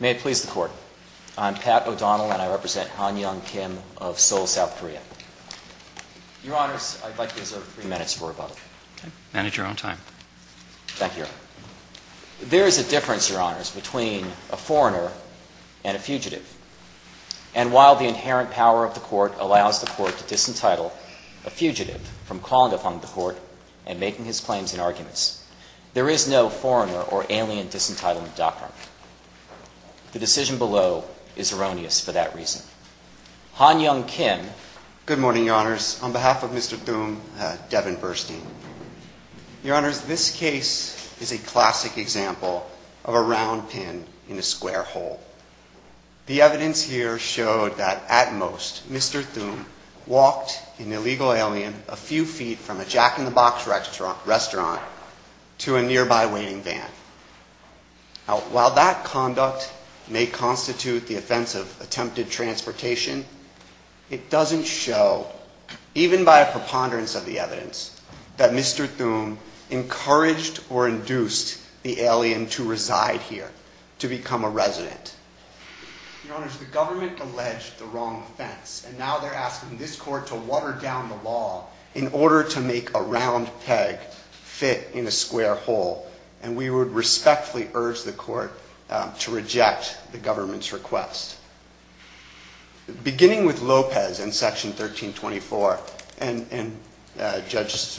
May it please the Court. I'm Pat O'Donnell, and I represent Han Young Kim of Seoul, South Korea. Your Honors, I'd like to reserve three minutes for rebuttal. Okay. Manage your own time. Thank you, Your Honor. There is a difference, Your Honors, between a foreigner and a fugitive. And while the inherent power of the Court allows the Court to disentitle a fugitive from calling upon the Court and making his claims in arguments, there is no foreigner or alien disentitlement doctrine. The decision below is erroneous for that reason. Han Young Kim. Good morning, Your Honors. On behalf of Mr. Thum, Devin Burstein. Your Honors, this case is a classic example of a round pin in a square hole. The evidence here showed that at most Mr. Thum walked an illegal alien a few feet from a Jack in the Box restaurant to a nearby waiting van. While that conduct may constitute the offense of attempted transportation, it doesn't show, even by a preponderance of the evidence, that Mr. Thum encouraged or induced the alien to reside here, to become a resident. Your Honors, the government alleged the wrong offense, and now they're asking this Court to water down the law in order to make a round peg fit in a square hole. And we would respectfully urge the Court to reject the government's request. Beginning with Lopez in Section 1324, and Judge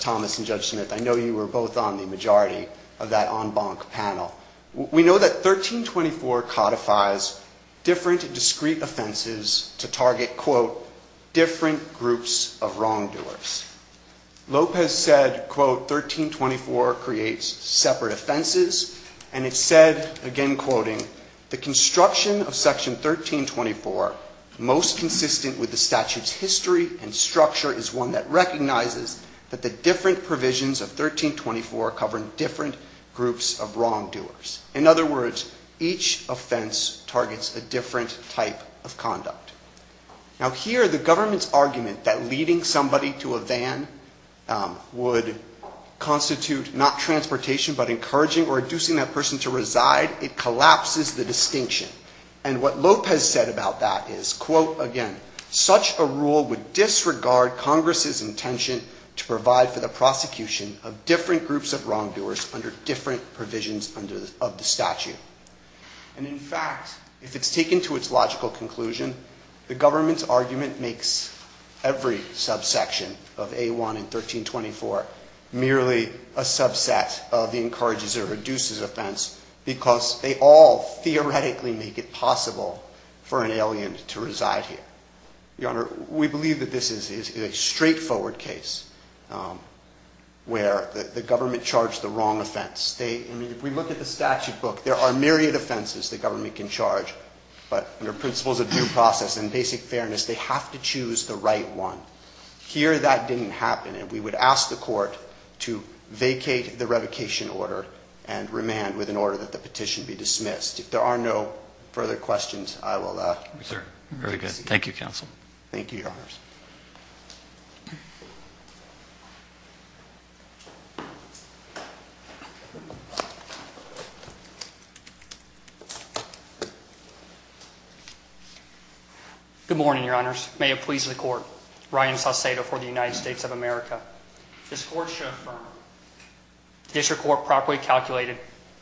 Thomas and Judge Smith, I know you were both on the majority of that en banc panel. We know that 1324 codifies different discrete offenses to target, quote, different groups of wrongdoers. Lopez said, quote, 1324 creates separate offenses, and it said, again quoting, the construction of Section 1324, most consistent with the statute's history and structure, is one that recognizes that the different provisions of 1324 cover different groups of wrongdoers. In other words, each offense targets a different type of conduct. Now here, the government's argument that leading somebody to a van would constitute not transportation, but encouraging or inducing that person to reside, it collapses the distinction. And what Lopez said about that is, quote, again, such a rule would disregard Congress's intention to provide for the prosecution of different groups of wrongdoers under different provisions of the statute. And in fact, if it's taken to its logical conclusion, the government's argument makes every subsection of A1 in 1324 merely a subset of the encourages or reduces offense, because they all theoretically make it possible for an alien to reside here. Your Honor, we believe that this is a straightforward case where the government charged the wrong offense. I mean, if we look at the statute book, there are myriad offenses the government can charge, but under principles of due process and basic fairness, they have to choose the right one. Here, that didn't happen. And we would ask the court to vacate the revocation order and remand with an order that the petition be dismissed. If there are no further questions, I will... Very good. Thank you, Counsel. Thank you, Your Honors. Good morning, Your Honors. May it please the court. Ryan Saucedo for the United States of America. This court shall affirm. District Court properly calculated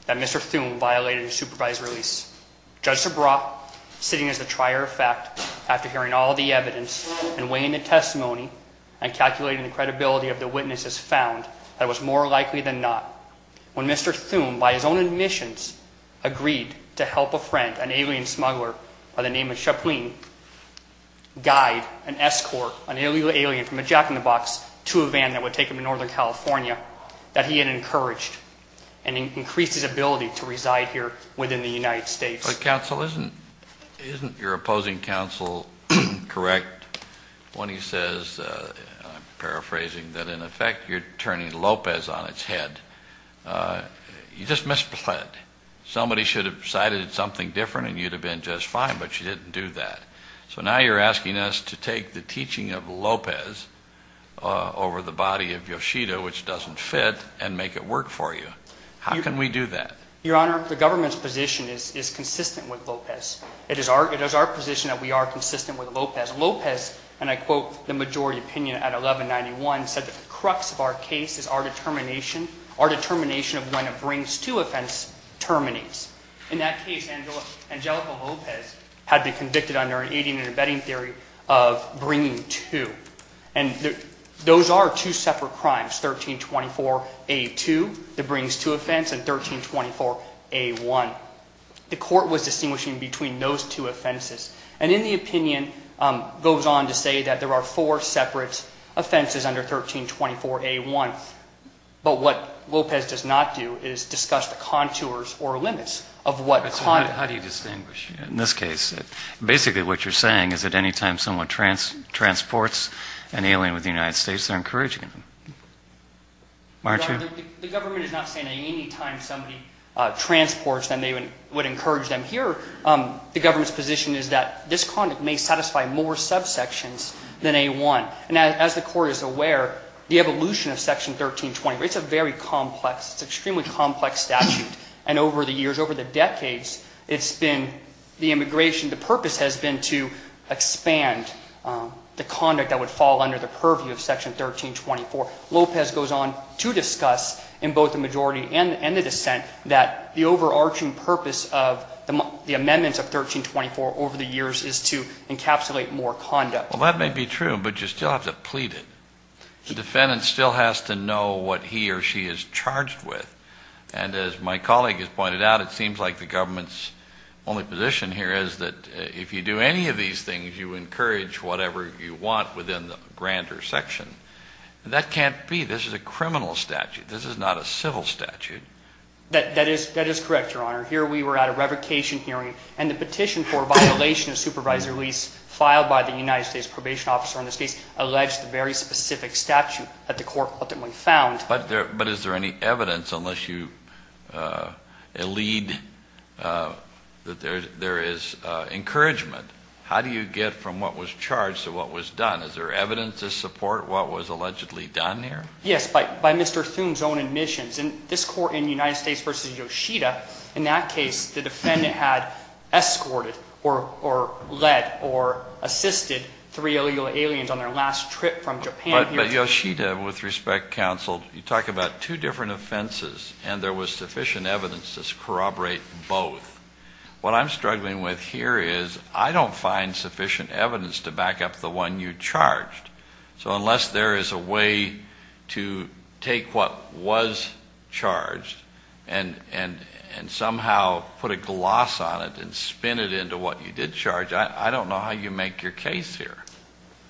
that Mr. Thume violated a supervised release. Judge Sabra, sitting as the trier of fact after hearing all the evidence and weighing the testimony and calculating the credibility of the witnesses found, that it was more likely than not when Mr. Thume, by his own admissions, agreed to help a friend, an alien smuggler by the name of Chaplin, guide an escort, an alien from a jack-in-the-box to a van that would take him to Northern California, that he had encouraged and increased his ability to reside here within the United States. Counsel, isn't your opposing counsel correct when he says, I'm paraphrasing, that in effect you're turning Lopez on its head? You just misread. Somebody should have decided it's something different and you'd have been just fine, but you didn't do that. So now you're asking us to take the teaching of Lopez over the body of Yoshida, which doesn't fit, and make it work for you. How can we do that? Your Honor, the government's position is consistent with Lopez. It is our position that we are consistent with Lopez. Lopez, and I quote the majority opinion at 1191, said that the crux of our case is our determination, our determination of when it brings to offense terminates. In that case, Angelica Lopez had been convicted under an aiding and abetting theory of bringing to. And those are two separate crimes, 1324A2, the brings to offense, and 1324A1. The court was distinguishing between those two offenses. And in the opinion, goes on to say that there are four separate offenses under 1324A1. But what how do you distinguish? In this case, basically what you're saying is that any time someone transports an alien with the United States, they're encouraging him. The government is not saying that any time somebody transports them, they would encourage them. Here, the government's position is that this conduct may satisfy more subsections than A1. And as the Court is aware, the evolution of Section 1324, it's a very it's been, the immigration, the purpose has been to expand the conduct that would fall under the purview of Section 1324. Lopez goes on to discuss in both the majority and the dissent that the overarching purpose of the amendments of 1324 over the years is to encapsulate more conduct. Well, that may be true, but you still have to plead it. The defendant still has to know what he or she is charged with. And as my colleague has pointed out, it seems like the government's only position here is that if you do any of these things, you encourage whatever you want within the grander section. That can't be. This is a criminal statute. This is not a civil statute. That is correct, Your Honor. Here we were at a revocation hearing and the petition for violation of supervisory lease filed by the United States Probation Officer in this case alleged a very specific statute that the Court ultimately found. But is there any evidence, unless you elide that there is encouragement, how do you get from what was charged to what was done? Is there evidence to support what was allegedly done here? Yes, by Mr. Thune's own admissions. In this Court in United States v. Yoshida, in that case, the defendant had escorted or led or assisted three illegal aliens on their last trip from Japan. But Yoshida, with respect, counsel, you talk about two different offenses and there was sufficient evidence to corroborate both. What I'm struggling with here is I don't find sufficient evidence to back up the one you charged. So unless there is a way to take what was lost on it and spin it into what you did charge, I don't know how you make your case here.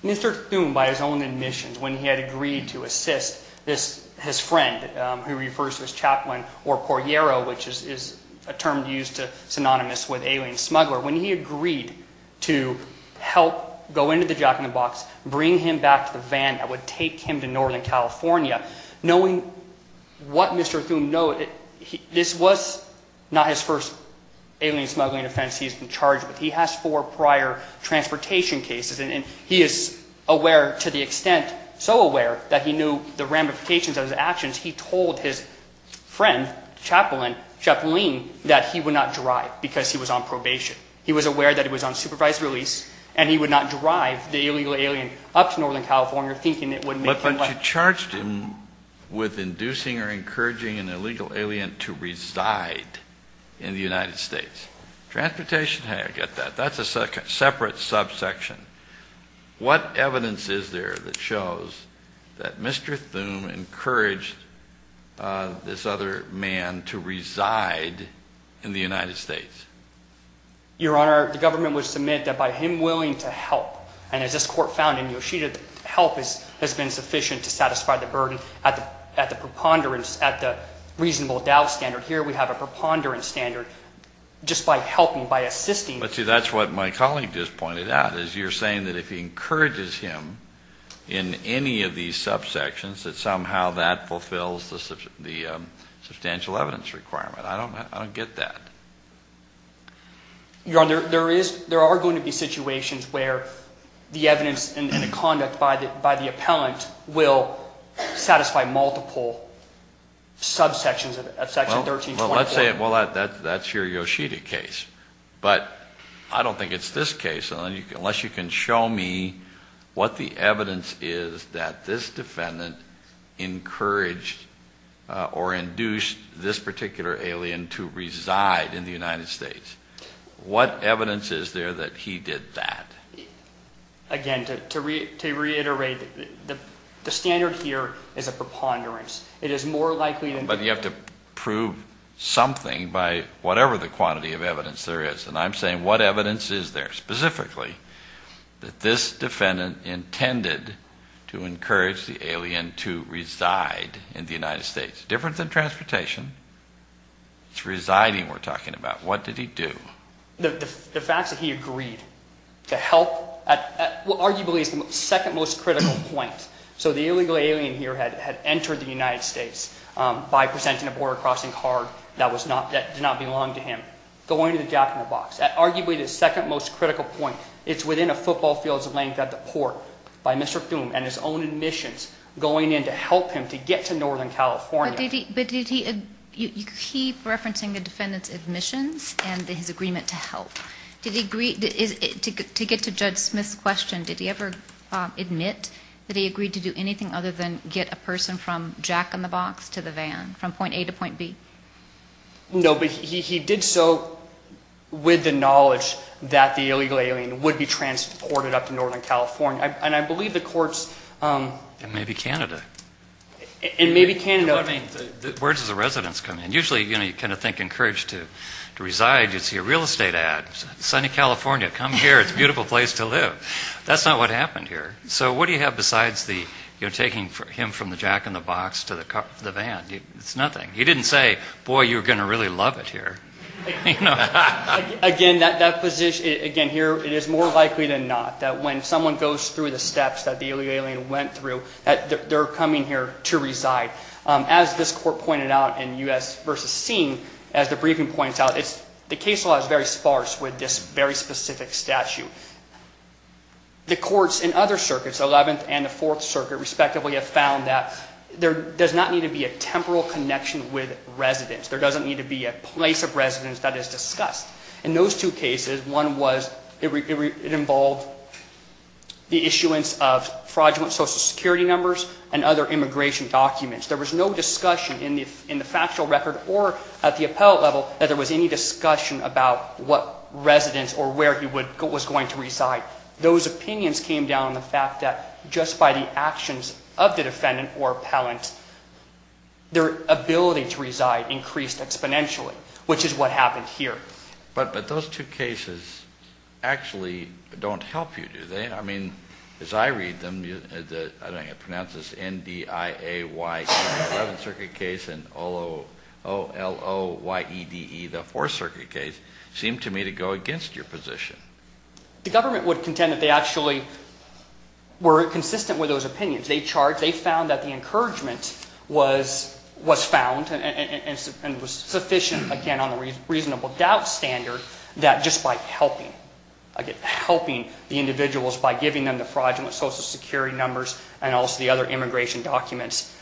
Mr. Thune, by his own admissions, when he had agreed to assist his friend who he refers to as Chaplain or Puerero, which is a term used to synonymous with alien smuggler, when he agreed to help go into the Jack in the Box, bring him back to the van that would take him to Northern California, knowing what Mr. Thune knows, this was not his first alien smuggling offense he's been charged with. He has four prior transportation cases and he is aware to the extent, so aware, that he knew the ramifications of his actions. He told his friend, Chaplain, that he would not drive because he was on probation. He was aware that he was on supervised release and he would not drive the illegal alien with inducing or encouraging an illegal alien to reside in the United States. Transportation? Hey, I get that. That's a separate subsection. What evidence is there that shows that Mr. Thune encouraged this other man to reside in the United States? Your Honor, the government would submit that by him willing to provide assistance. I don't get that. Your Honor, there are going to be situations where the evidence that Mr. Thune indicates in the conduct by the appellant will satisfy multiple subsections of Section 1327. Well, let's say that's your Yoshida case, but I don't think it's this case unless you can show me what the evidence is that this defendant encouraged or induced this particular alien to reside in the United States. What evidence is there that he did that? Again, to reiterate, the standard here is a preponderance. But you have to prove something by whatever the quantity of evidence there is. And I'm saying what evidence is there specifically that this defendant intended to encourage the alien to reside in the United States? It's different than transportation. It's residing we're talking about. What did he do? The fact that he agreed to help, arguably, is the second most critical point. So the illegal alien here had entered the United States by presenting a border crossing card that did not belong to him. Going to the jack-in-the-box. Arguably the second most critical point. It's within a football field's length at the port by Mr. Fume and his own admissions going in to help him to get to Northern California. But did he, you keep referencing the defendant's admissions and his agreement to help. Did he agree, to get to Judge Smith's question, did he ever admit that he agreed to do anything other than get a person from jack-in-the-box to the van, from point A to point B? No, but he did so with the knowledge that the illegal alien would be transported up to Northern California. And I believe the courts. And maybe Canada. And maybe Canada. Words of the residents come in. Usually you kind of think encouraged to reside. You see a real estate ad. Sunny California. Come here. It's a beautiful place to live. That's not what happened here. So what do you have besides taking him from the jack-in-the-box to the van? It's nothing. He didn't say, boy, you're going to really love it here. Again, here it is more likely than not that when someone goes through the steps that the illegal alien went through, that they're coming here to reside. As this court pointed out in U.S. v. Seen, as the briefing points out, the case law is very sparse with this very specific statute. The courts in other circuits, 11th and the Fourth Circuit, respectively, have found that there does not need to be a temporal connection with residents. There doesn't need to be a place of residence that is discussed. In those two cases, one was it involved the issuance of fraudulent Social Security numbers and other immigration documents. There was no discussion in the factual record or at the appellate level that there was any discussion about what residence or where he was going to reside. Those opinions came down on the fact that just by the actions of the defendant or appellant, their ability to reside increased exponentially, which is what happened here. But those two cases actually don't help you, do they? I mean, as I read them, I don't know how to pronounce this, N-D-I-A-Y-E, the 11th Circuit case and O-L-O-Y-E-D-E, the Fourth Circuit case, seem to me to go against your position. The government would contend that they actually were consistent with those opinions. They found that the encouragement was found and was sufficient, again, on the reasonable doubt standard that just by helping the individuals, by giving them the fraudulent Social Security numbers and also the other immigration documents,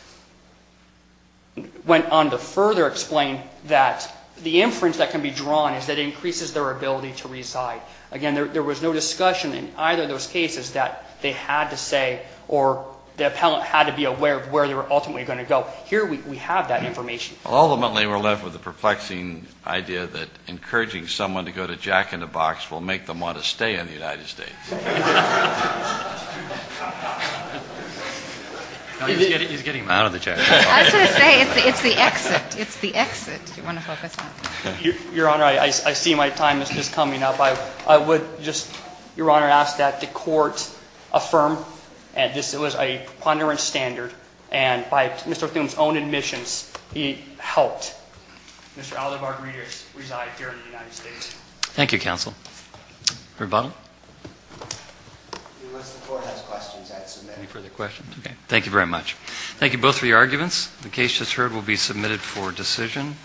went on to further explain that the inference that can be drawn is that it increases their ability to reside. Again, there was no discussion in either of those cases that they had to say or the appellant had to be aware of where they were ultimately going to go. Here we have that information. Ultimately, we're left with the perplexing idea that encouraging someone to go to jack-in-the-box will make them want to stay in the United States. He's getting out of the chair. I was going to say, it's the exit. It's the exit. Your Honor, I see my time is just coming up. I would just, Your Honor, ask that the Court affirm that this was a preponderant standard and by Mr. O'Toole's own admissions he helped Mr. Alderbarg-Reeders reside here in the United States. Thank you, Counsel. Any further questions? Okay. Thank you very much. Thank you both for your arguments. The case just heard will be submitted for decision.